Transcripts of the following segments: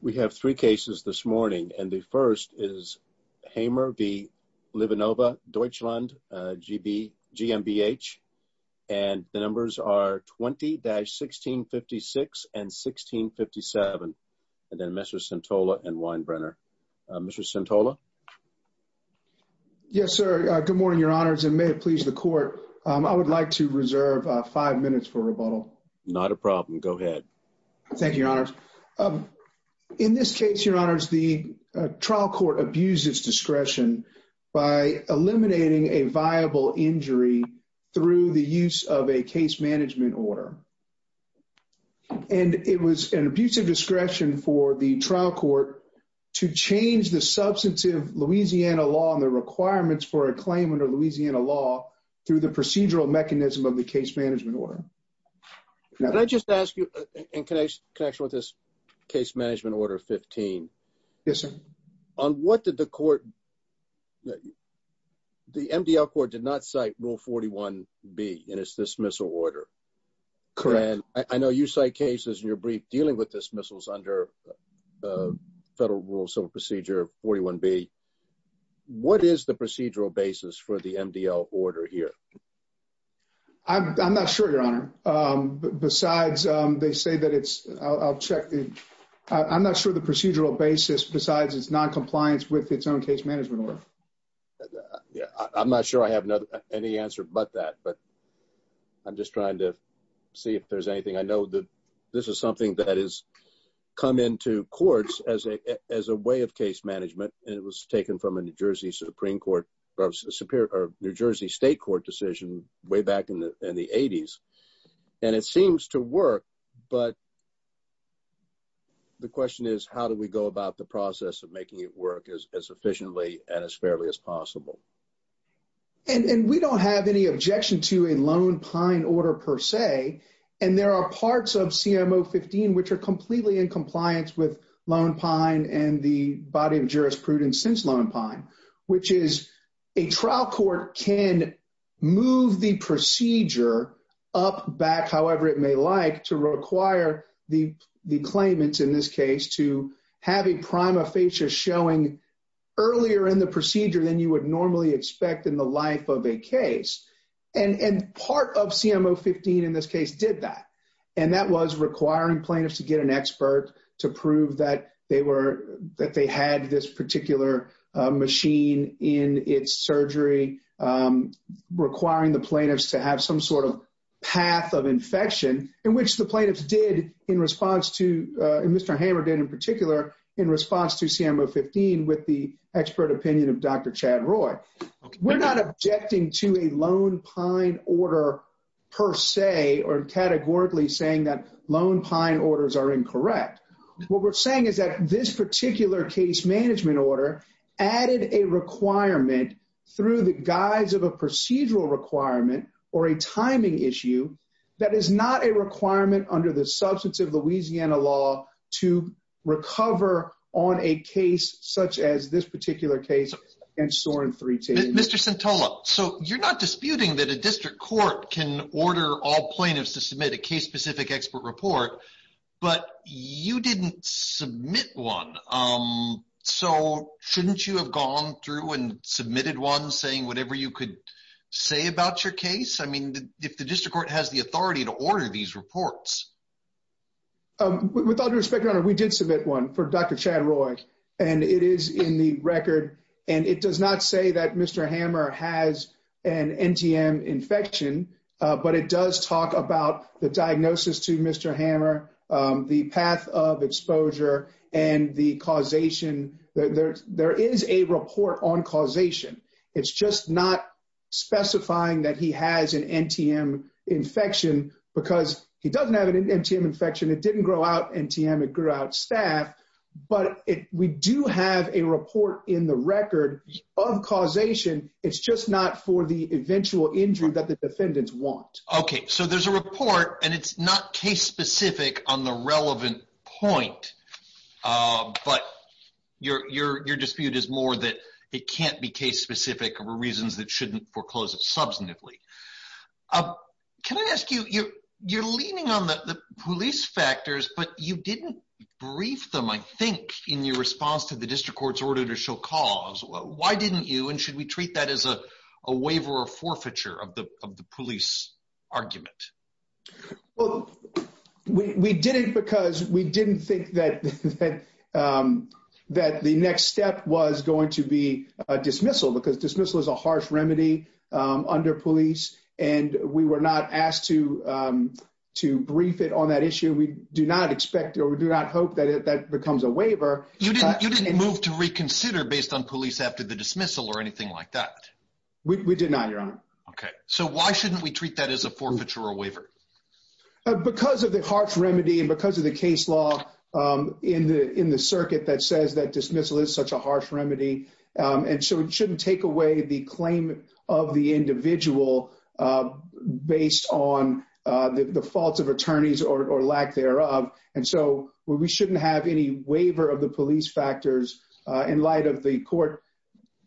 We have three cases this morning and the first is Hamer v. Livanova Deutschland GmbH and the numbers are 20-1656 and 1657 and then Mr. Santola and Weinbrenner. Mr. Santola. Yes sir, good morning your honors and may it please the court. I would like to reserve five minutes for rebuttal. Not a problem, go ahead. Thank you your honors. In this case, your honors, the trial court abused its discretion by eliminating a viable injury through the use of a case management order and it was an abusive discretion for the trial court to change the substantive Louisiana law and the requirements for a claim under Louisiana law through the procedural mechanism of the case management order. Can I just ask you in connection with this case management order 15. Yes sir. On what did the court, the MDL court did not cite rule 41b in its dismissal order. Correct. I know you cite cases in your brief dealing with dismissals under federal rule civil procedure 41b. What is the procedural basis for the MDL order here? I'm not sure your honor, besides they say that it's I'll check the I'm not sure the procedural basis besides it's non-compliance with its own case management order. Yeah I'm not sure I have another any answer but that but I'm just trying to see if there's anything. I know that this is something that has come into courts as a as a way of case management and it was taken from a New Jersey supreme court or superior New Jersey state court decision way back in the in the 80s and it seems to work but the question is how do we go about the process of making it work as efficiently and as fairly as possible. And we don't have any objection to a lone pine order per se and there are parts of CMO 15 which are completely in compliance with and the body of jurisprudence since lone pine which is a trial court can move the procedure up back however it may like to require the the claimants in this case to have a prima facie showing earlier in the procedure than you would normally expect in the life of a case. And and part of CMO 15 in this case did that and that was requiring plaintiffs to get an expert to prove that they were that they had this particular machine in its surgery requiring the plaintiffs to have some sort of path of infection in which the plaintiffs did in response to and Mr. Hammer did in particular in response to CMO 15 with the expert opinion of Dr. Chad Roy. We're not objecting to a lone pine order per se or categorically saying that lone pine orders are incorrect. What we're saying is that this particular case management order added a requirement through the guise of a procedural requirement or a timing issue that is not a requirement under the substance of Louisiana law to recover on a case such as this particular case against Soren 310. Mr. Centola, so you're not disputing that a district court can order all you didn't submit one. So shouldn't you have gone through and submitted one saying whatever you could say about your case? I mean, if the district court has the authority to order these reports. With all due respect, we did submit one for Dr. Chad Roy, and it is in the record. And it does not say that Mr. Hammer has an NTM infection. But it does talk about the diagnosis to Mr. Hammer the path of exposure and the causation. There is a report on causation. It's just not specifying that he has an NTM infection because he doesn't have an NTM infection. It didn't grow out NTM, it grew out staff. But we do have a report in the record of causation. It's just not for the eventual injury that the defendants want. Okay, so there's a report and it's not case specific on the relevant point. But your dispute is more that it can't be case specific or reasons that shouldn't foreclose it substantively. Can I ask you, you're leaning on the police factors, but you didn't brief them, I think, in your response to the district court's order to show cause. Why didn't you and should we treat that as a waiver or forfeiture of the police argument? Well, we didn't because we didn't think that the next step was going to be a dismissal because dismissal is a harsh remedy under police. And we were not asked to brief it on that issue. We do not expect or we do not hope that that becomes a waiver. You didn't move to reconsider based on police after the dismissal or anything like that? We did not, Your Honor. Okay, so why shouldn't we waiver? Because of the harsh remedy and because of the case law in the circuit that says that dismissal is such a harsh remedy. And so it shouldn't take away the claim of the individual based on the faults of attorneys or lack thereof. And so we shouldn't have any waiver of the police factors in light of the court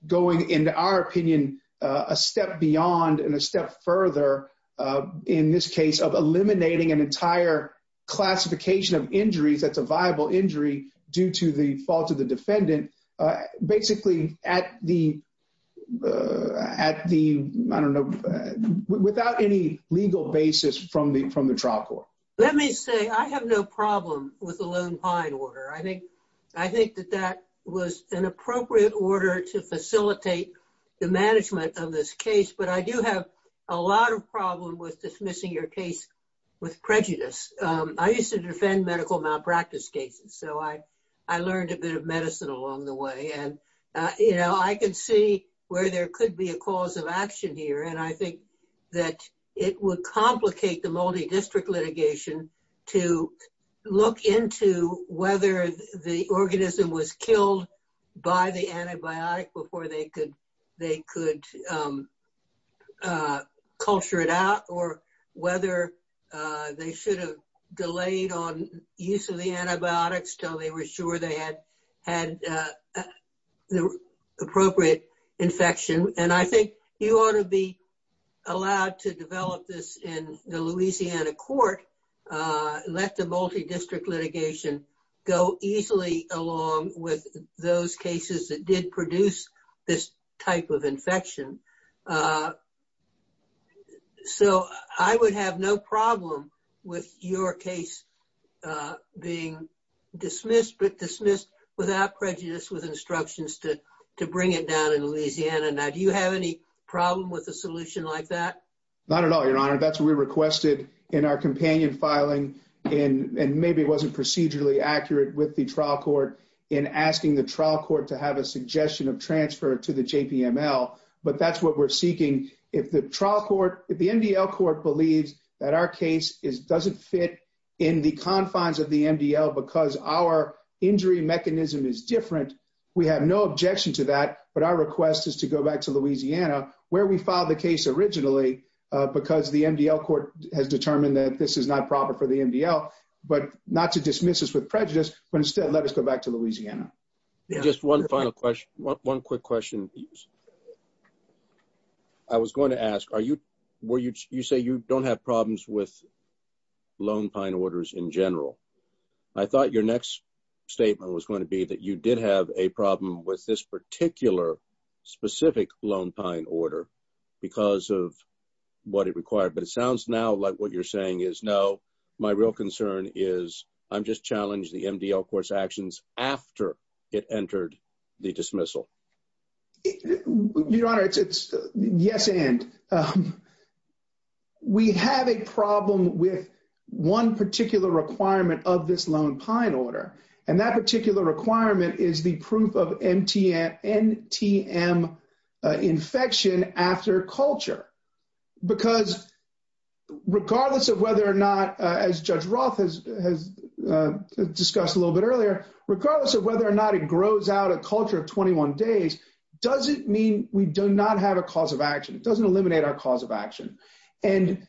going, in our opinion, a step beyond and a step further in this case of eliminating an entire classification of injuries, that's a viable injury due to the fault of the defendant, basically without any legal basis from the trial court. Let me say, I have no problem with the Lone Pine order. I think that that was an appropriate order to facilitate the management of this case. But I do have a lot of problem with dismissing your case with prejudice. I used to defend medical malpractice cases. So I learned a bit of medicine along the way. And I can see where there could be a cause of action here. And I think that it would complicate the multi-district litigation to look into whether the organism was killed by the antibiotic before they could culture it out or whether they should have delayed on use of the antibiotics till they were sure they had the appropriate infection. And I think you ought to be allowed to develop this in the Louisiana court, let the multi-district litigation go easily along with those cases that did produce this type of infection. So I would have no problem with your case being dismissed, but dismissed without prejudice with instructions to bring it down in Louisiana. Now, do you have any problem with a solution like that? Not at all, Your Honor. That's what we requested in our companion filing and maybe it wasn't procedurally accurate with the trial court in asking the trial court to have a suggestion of transfer to the JPML, but that's what we're seeking. If the trial court, if the MDL court believes that our case doesn't fit in the confines of the MDL because our injury mechanism is different, we have no objection to that. But our request is to go back to Louisiana where we filed the case originally, because the MDL court has determined that this is not proper for the MDL, but not to dismiss us with prejudice, but instead let us go back to Louisiana. Just one final question, one quick question. I was going to ask, you say you don't have problems with lone pine orders in general. I thought your next statement was going to be that you did have a problem with this particular specific lone pine order because of what it required, but it sounds now like what you're saying is no. My real concern is I'm just challenged the MDL court's actions after it entered the dismissal. Your Honor, it's yes and. We have a problem with one particular requirement of this lone pine order, and that particular requirement is the proof of NTM infection after culture, because regardless of whether or not, as Judge Roth has discussed a little bit earlier, regardless of whether or not it grows out a culture of 21 days, does it mean we do not have a cause of action? It doesn't eliminate our cause of action. And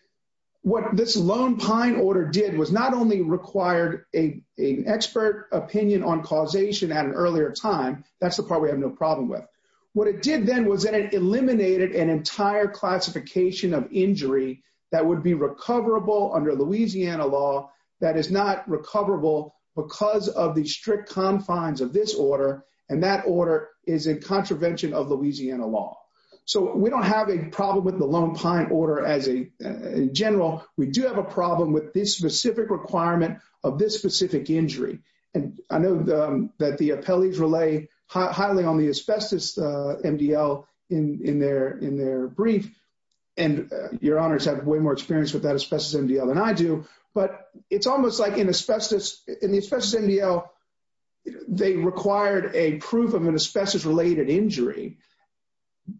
what this lone pine order did was not only required an expert opinion on causation at an earlier time, that's the part we have no problem with. What it did then was that it eliminated an entire classification of injury that would be recoverable under Louisiana law that is not recoverable because of the strict confines of this order, and that order is in contravention of Louisiana law. So we don't have a problem with the lone pine order as a general. We do have a problem with this specific requirement of this specific injury. And I know that the appellees relay highly on the asbestos MDL in their brief, and Your Honor has had way more experience with that asbestos MDL than I do, but it's almost like in the asbestos MDL, they required a proof of an asbestos-related injury,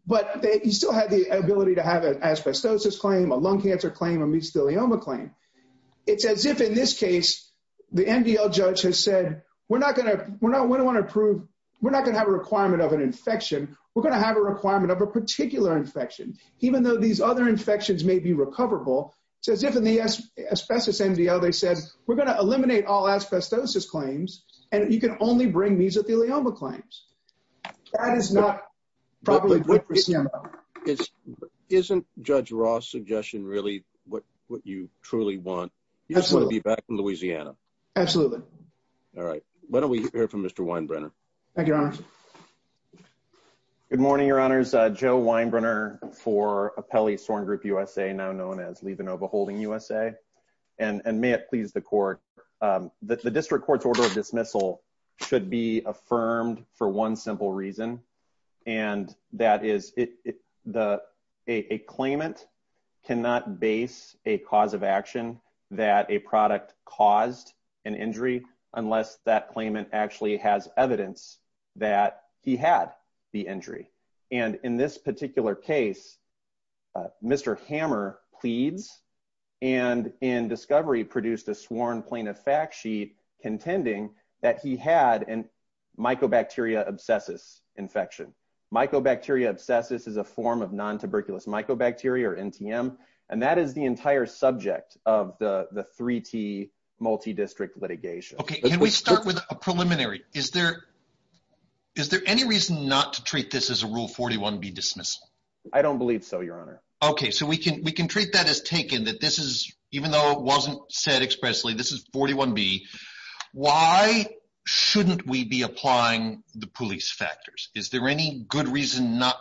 but they still had the ability to have an asbestosis claim, a lung cancer claim, a mesothelioma claim. It's as if in this case, the MDL judge has said, we're not going to want to prove, we're not going to have a requirement of an infection, we're going to have a requirement of a particular infection, even though these other infections may be recoverable. It's as if in the asbestos MDL, they said, we're going to eliminate all asbestosis claims, and you can only bring mesothelioma claims. That is not probably good for CMS. Isn't Judge Ross' suggestion really what you truly want? You just want to be back in Louisiana. Absolutely. All right. Why don't we hear from Mr. Weinbrenner? Thank you, Your Honor. Good morning, Your Honors. Joe Weinbrenner for Appellee Soren Group USA, now known as Levenova Holding USA. And may it please the court, the district court's order of dismissal should be affirmed for one simple reason. And that is a claimant cannot base a cause of action that a product caused an injury unless that claimant actually has evidence that he had the injury. And in this particular case, Mr. Hammer pleads and in discovery produced a sworn plaintiff fact sheet contending that he had a mycobacteria obsessus infection. Mycobacteria obsessus is a form of non-tuberculous mycobacteria, or NTM. And that is the entire subject of the 3T multi-district litigation. Okay. Can we start with a preliminary? Is there any reason not to treat this as a Rule 41 be dismissed? I don't believe so, Your Honor. Okay. So we can treat that as taken, that this is, even though it wasn't said expressly, this is 41B. Why shouldn't we be applying the police factors? Is there any good reason not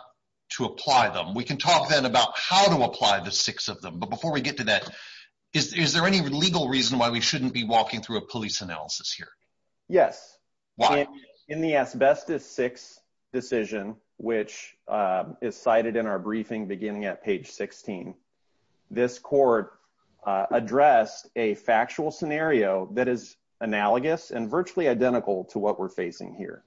to apply them? We can talk then about how to apply the six of them. But before we get to that, is there any legal reason why we shouldn't be walking through a police analysis here? Yes. In the asbestos six decision, which is cited in our briefing beginning at page 16, this court addressed a factual scenario that is analogous and virtually identical to what we're facing here.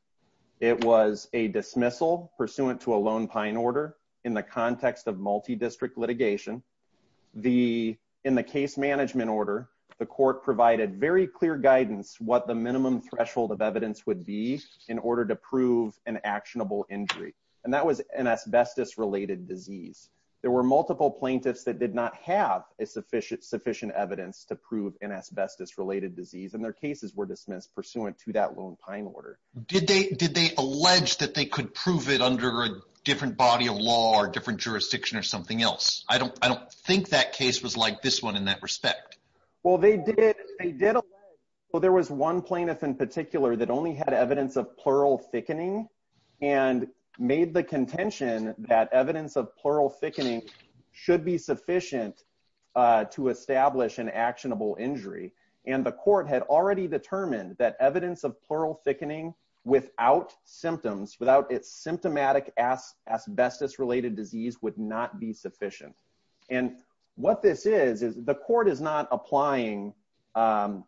It was a dismissal pursuant to a lone pine order in the context of multi-district litigation. In the case management order, the court provided very clear guidance what the minimum threshold of evidence would be in order to prove an actionable injury. And that was an asbestos-related disease. There were multiple plaintiffs that did not have a sufficient evidence to prove an asbestos-related disease, and their cases were dismissed pursuant to that lone pine order. Did they allege that they could prove it under a different body of law or different jurisdiction or something else? I don't think that case was like this one in that respect. Well, they did allege. Well, there was one plaintiff in particular that only had evidence of plural thickening and made the contention that evidence of plural thickening should be sufficient to establish an actionable injury. And the court had already determined that evidence of plural thickening without symptoms, without its symptomatic asbestos-related disease would not be sufficient. And what this is, is the court is not applying a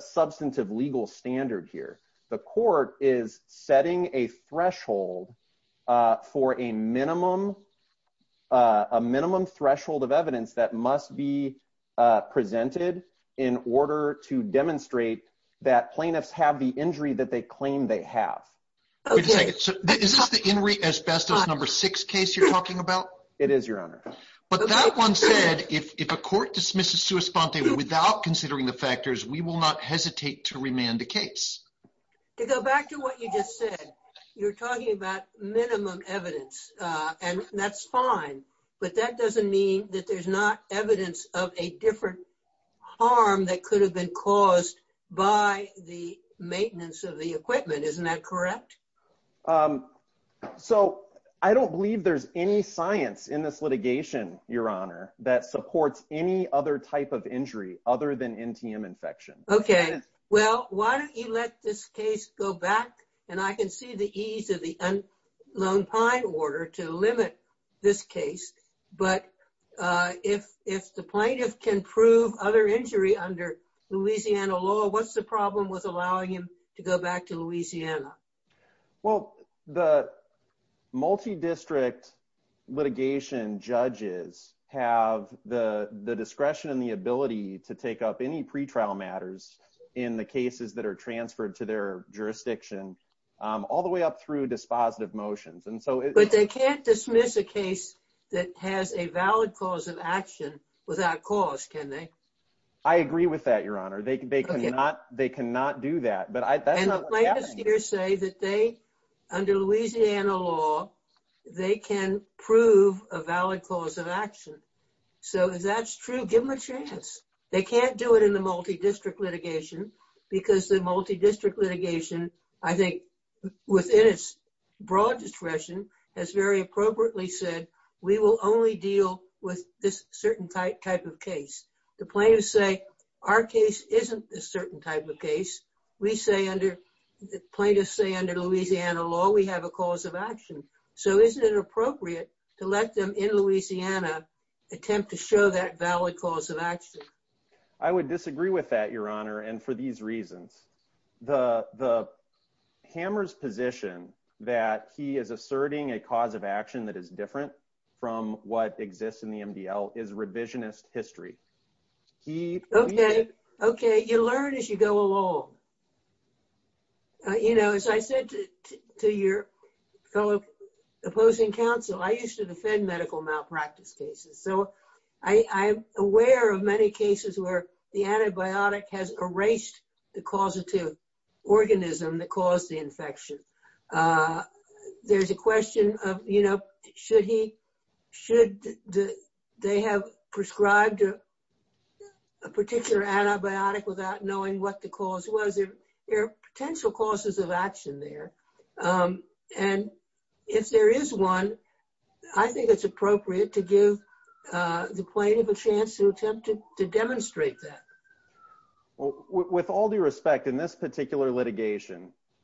substantive legal standard here. The court is setting a threshold for a minimum threshold of evidence that must be presented in order to demonstrate that plaintiffs have the injury that they claim they have. Wait a second. So is this the in re asbestos number six case you're talking about? It is, Your Honor. But that one said, if a court dismisses sua sponte without considering the factors, we will not hesitate to remand the case. To go back to what you just said, you're talking about minimum evidence, and that's fine. But that doesn't mean that there's not evidence of a different harm that could have been caused by the maintenance of the equipment. Isn't that correct? So I don't believe there's any science in this litigation, Your Honor, that supports any other type of injury other than NTM infection. Okay. Well, why don't you let this case go back? And I can see the ease of the unknown pine order to limit this case. But if the plaintiff can prove other injury under Louisiana law, what's the problem with allowing him to go back to Louisiana? Well, the multi-district litigation judges have the discretion and the ability to take up any pretrial matters in the cases that are transferred to their jurisdiction, all the way up through dispositive motions. But they can't dismiss a case that has a valid cause of action without cause, can they? I agree with that, Your Honor. They cannot do that. And the plaintiffs here say that under Louisiana law, they can prove a valid cause of action. So if that's true, give them a chance. They can't do it in the multi-district litigation because the multi-district litigation, I think, within its broad discretion, has very appropriately said, we will only deal with this certain type of case. The plaintiffs say our case isn't a certain type of case. We say under, the plaintiffs say under Louisiana law, we have a cause of action. So isn't it appropriate to let them in Louisiana attempt to show that valid cause of action? I would disagree with that, Your Honor, and for these reasons. The hammer's position that he is asserting a cause of action that is different from what exists in the MDL is revisionist history. Okay. You learn as you go along. As I said to your fellow opposing counsel, I used to defend medical malpractice cases. So I'm aware of many cases where the antibiotic has erased the causative organism that caused the infection. There's a question of, should they have prescribed a particular antibiotic without knowing what the cause was? There are potential causes of action there. And if there is one, I think it's appropriate to give the plaintiff a chance to attempt to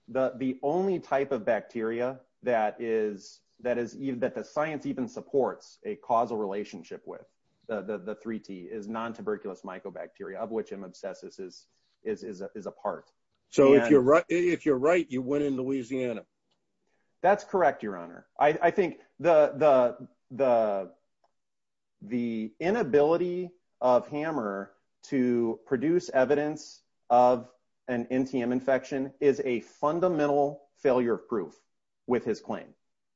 The only type of bacteria that the science even supports a causal relationship with, the 3T, is non-tuberculous mycobacteria, of which M. abscessus is a part. So if you're right, you win in Louisiana. That's correct, Your Honor. I think the inability of Hammer to produce evidence of an NTM infection is a fundamental failure of proof with his claim.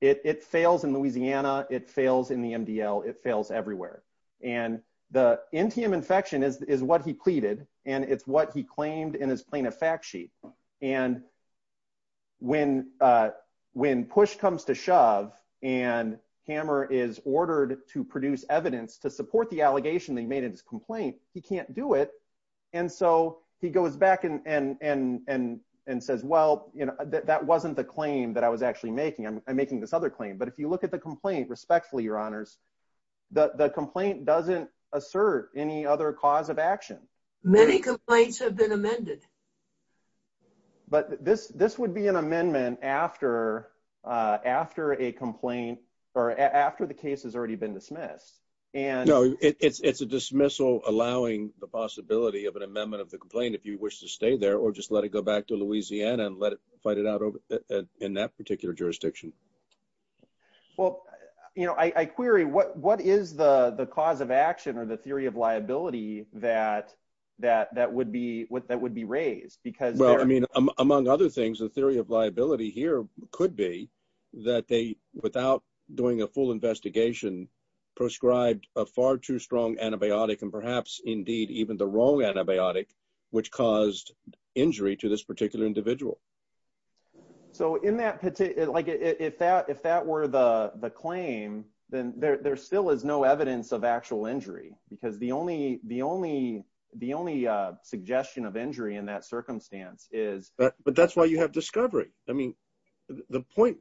It fails in Louisiana. It fails in the MDL. It fails everywhere. And the NTM infection is what he pleaded, and it's what he claimed in his plaintiff fact sheet. And when push comes to shove and Hammer is ordered to produce evidence to support the allegation that he made in his complaint, he can't do it. And so he goes back and says, well, that wasn't the claim that I was actually making. I'm making this other claim. But if you look at the complaint, respectfully, Your Honors, the complaint doesn't assert any other cause of action. But this would be an amendment after a complaint or after the case has already been dismissed. No, it's a dismissal allowing the possibility of an amendment of the complaint if you wish to stay there or just let it go back to Louisiana and fight it out in that particular jurisdiction. Well, I query what is the cause of action or the theory of liability that would be raised? Well, I mean, among other things, the theory of liability here could be that they, without doing a full investigation, prescribed a far too strong antibiotic and perhaps, indeed, even the wrong antibiotic, which caused injury to this particular individual. So if that were the claim, then there still is no evidence of actual injury because the only suggestion of injury in that circumstance is... But that's why you have discovery. I mean, the point,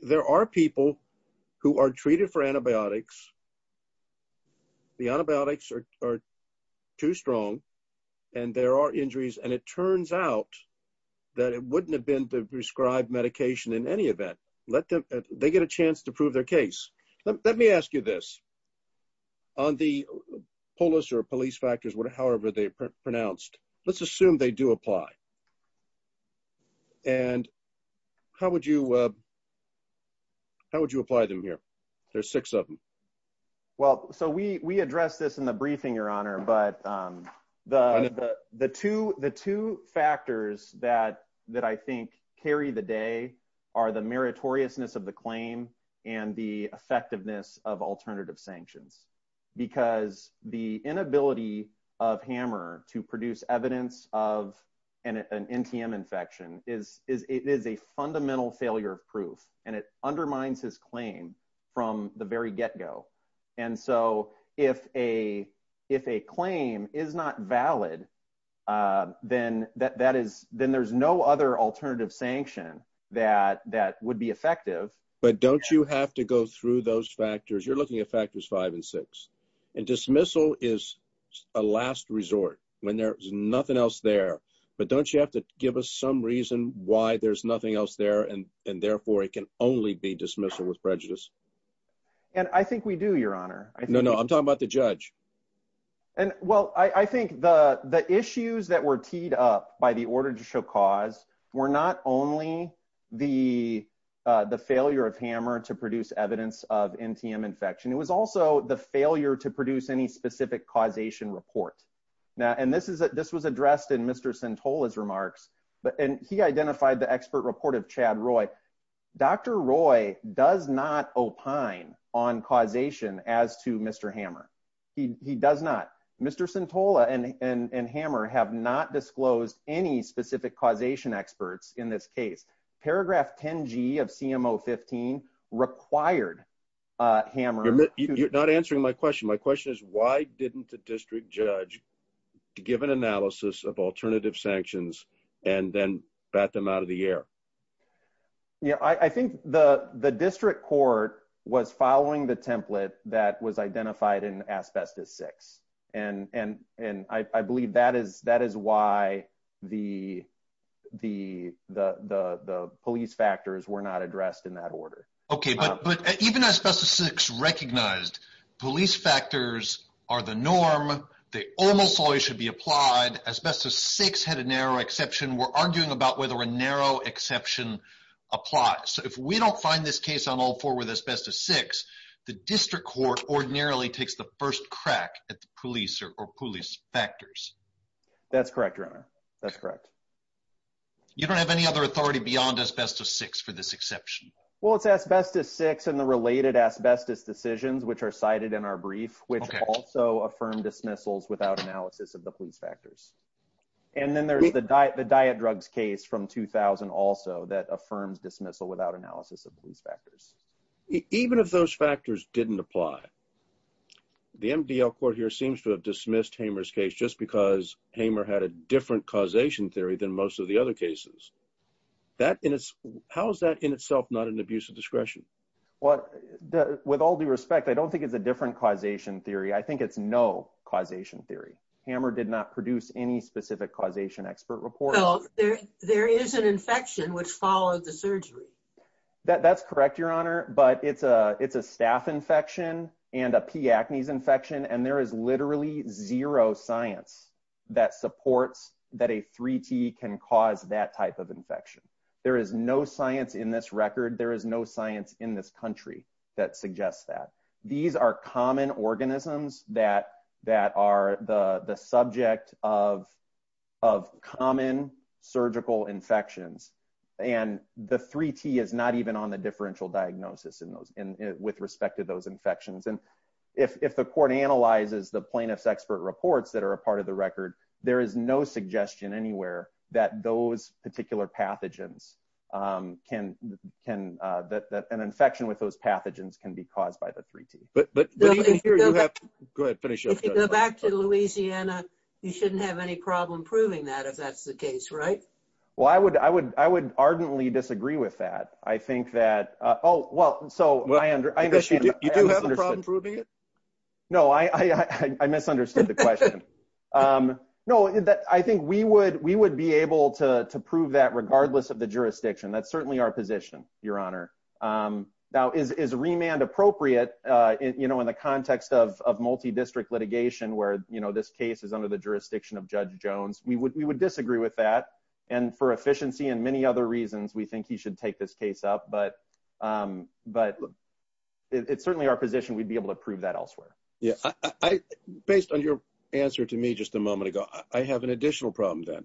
there are people who are treated for antibiotics. The antibiotics are too strong and there are injuries and it turns out that it wouldn't have been the prescribed medication in any event. They get a chance to prove their case. Let me ask you this. On the police factors, however they're pronounced, let's assume they do apply. And how would you apply them here? There's six of them. Well, so we addressed this in the briefing, Your Honor, but the two factors that I think carry the day are the meritoriousness of the claim and the effectiveness of alternative sanctions because the inability of Hammer to produce evidence of an NTM infection is a fundamental failure of proof and it undermines his claim from the very get-go. And so if a claim is not valid, then there's no other alternative sanction that would be effective. But don't you have to go through those factors? You're looking at factors five and six. And dismissal is a last resort when there's nothing else there. But don't you have to give us some reason why there's nothing else there and therefore it can only be dismissal with prejudice? And I think we do, Your Honor. No, no, I'm talking about the judge. And well, I think the issues that were teed up by the order to show cause were not only the failure of Hammer to produce evidence of NTM infection, it was also the failure to produce any specific causation report. And this was addressed in Mr. Centola's remarks, and he identified the expert report of Chad Roy. Dr. Roy does not opine on causation as to Mr. Hammer. He does not. Mr. Centola and Hammer have not disclosed any specific causation experts in this case. Paragraph 10G of CMO 15 required Hammer. You're not answering my question. My question is why didn't the district judge give an analysis of alternative sanctions and then bat them out of the air? Yeah, I think the district court was following the template that was identified in Asbestos 6. And I believe that is why the police factors were not addressed in that order. Okay, but even Asbestos 6 recognized police factors are the norm. They almost always should be applied. Asbestos 6 had a narrow exception apply. So if we don't find this case on all four with Asbestos 6, the district court ordinarily takes the first crack at the police or police factors. That's correct, Your Honor. That's correct. You don't have any other authority beyond Asbestos 6 for this exception? Well, it's Asbestos 6 and the related Asbestos decisions which are cited in our brief, which also affirm dismissals without analysis of the police factors. And then there's the diet drugs case from 2000 also that affirms dismissal without analysis of police factors. Even if those factors didn't apply, the MDL court here seems to have dismissed Hammer's case just because Hammer had a different causation theory than most of the other cases. How is that in itself not an abuse of discretion? Well, with all due respect, I don't think it's a different causation theory. I think it's no causation theory. Hammer did not produce any specific causation expert report. Well, there is an infection which followed the surgery. That's correct, Your Honor. But it's a staph infection and a P. Acnes infection. And there is literally zero science that supports that a 3T can cause that type of infection. There is no science in this record. There is no science in this country that suggests that. These are common organisms that are the surgical infections. And the 3T is not even on the differential diagnosis in those with respect to those infections. And if the court analyzes the plaintiff's expert reports that are a part of the record, there is no suggestion anywhere that those particular pathogens can that an infection with those pathogens can be caused by the 3T. But here you have to go ahead and finish if you go back to Louisiana. You shouldn't have any problem proving that if that's the case, right? Well, I would I would I would ardently disagree with that. I think that. Oh, well, so I understand that you do have a problem proving it. No, I misunderstood the question. No, that I think we would we would be able to prove that regardless of the jurisdiction. That's certainly our position, Your Honor. Now, is remand appropriate? You know, in the context of multi-district litigation, where, you know, this case is under the jurisdiction of Judge Jones, we would we would disagree with that. And for efficiency and many other reasons, we think he should take this case up. But but it's certainly our position, we'd be able to prove that elsewhere. Yeah, I based on your answer to me just a moment ago, I have an additional problem that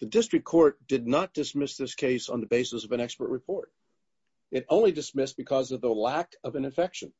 the district court did not dismiss this case on the basis of an expert report. It only dismissed because of the lack of an infection.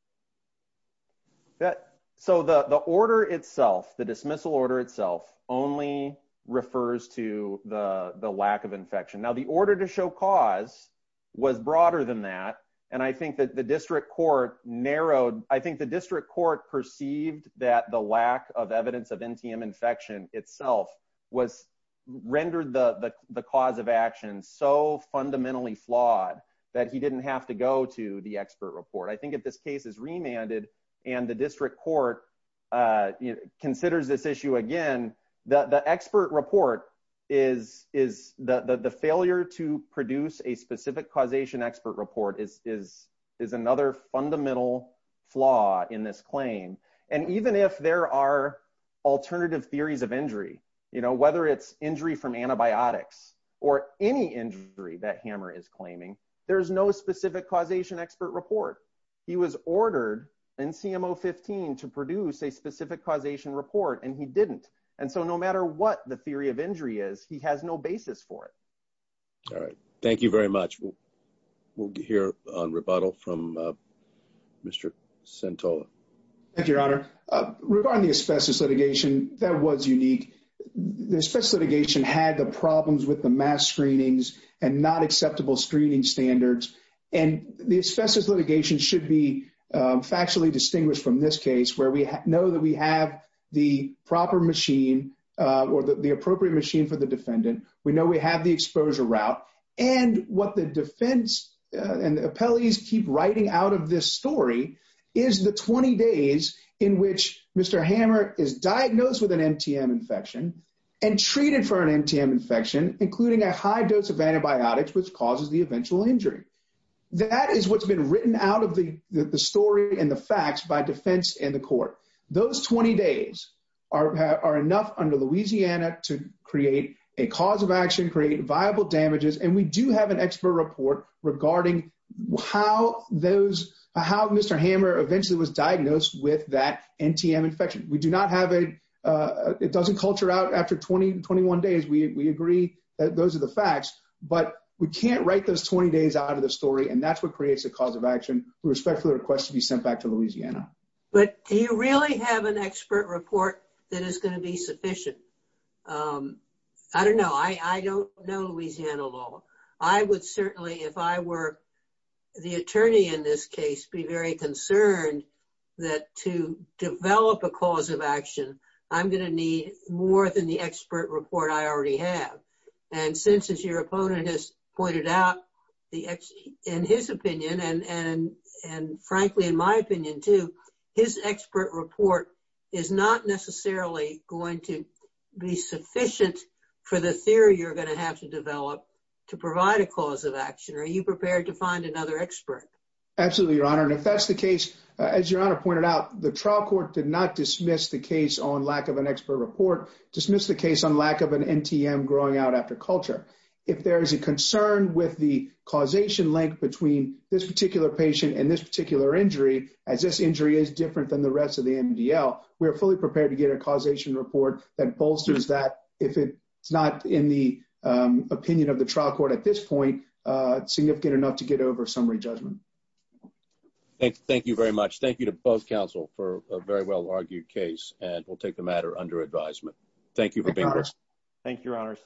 That so the the order itself, the dismissal order itself only refers to the lack of infection. Now, the order to show cause was broader than that. And I think that the district court narrowed, I think the district court perceived that the lack of evidence of NTM infection itself was rendered the the cause of action so fundamentally flawed that he didn't have to go to the expert report. I think if this case is remanded, and the district court considers this issue, again, the expert report is is the failure to produce a specific causation expert report is is is another fundamental flaw in this claim. And even if there are alternative theories of injury, you know, whether it's injury from antibiotics, or any injury that hammer is claiming, there's no specific causation expert report. He was ordered in CMO 15 to produce a specific causation report, and he didn't. And so no matter what the theory of injury is, he has no basis for it. All right. Thank you very much. We'll hear on rebuttal from Mr. Santola. Thank you, Your Honor. Regarding the asbestos litigation, that was unique. The asbestos litigation had the problems with the mass screenings, and not acceptable screening standards. And the asbestos litigation should be factually distinguished from this case, where we know that we have the proper machine, or the appropriate machine for the defendant, we know we have the 20 days in which Mr. Hammer is diagnosed with an MTM infection, and treated for an MTM infection, including a high dose of antibiotics, which causes the eventual injury. That is what's been written out of the story and the facts by defense in the court. Those 20 days are enough under Louisiana to create a cause of action create viable damages. And we do have an expert report regarding how those, how Mr. Hammer eventually was diagnosed with that MTM infection. We do not have a, it doesn't culture out after 20, 21 days. We agree that those are the facts, but we can't write those 20 days out of the story. And that's what creates a cause of action, with respect to the request to be sent back to Louisiana. But do you really have an expert report that is going to be sufficient? I don't know. I don't know Louisiana law. I would certainly, if I were the attorney in this case, be very concerned that to develop a cause of action, I'm going to need more than the expert report I already have. And since, as your opponent has pointed out, in his opinion, and frankly, in my opinion too, his expert report is not necessarily going to be sufficient for the theory you're going to have to develop to provide a cause of action. Are you prepared to find another expert? Absolutely, your honor. And if that's the case, as your honor pointed out, the trial court did not dismiss the case on lack of an expert report, dismiss the case on lack of an MTM growing out after culture. If there is a concern with the causation link between this particular patient and this particular injury, as this injury is different than the rest of the MDL, we are fully prepared to get a causation report that bolsters that if it's not in the opinion of the trial court at this point, significant enough to get over summary judgment. Thank you very much. Thank you to both counsel for a very well argued case, and we'll take the matter under advisement. Thank you for being here. Thank you, your honors.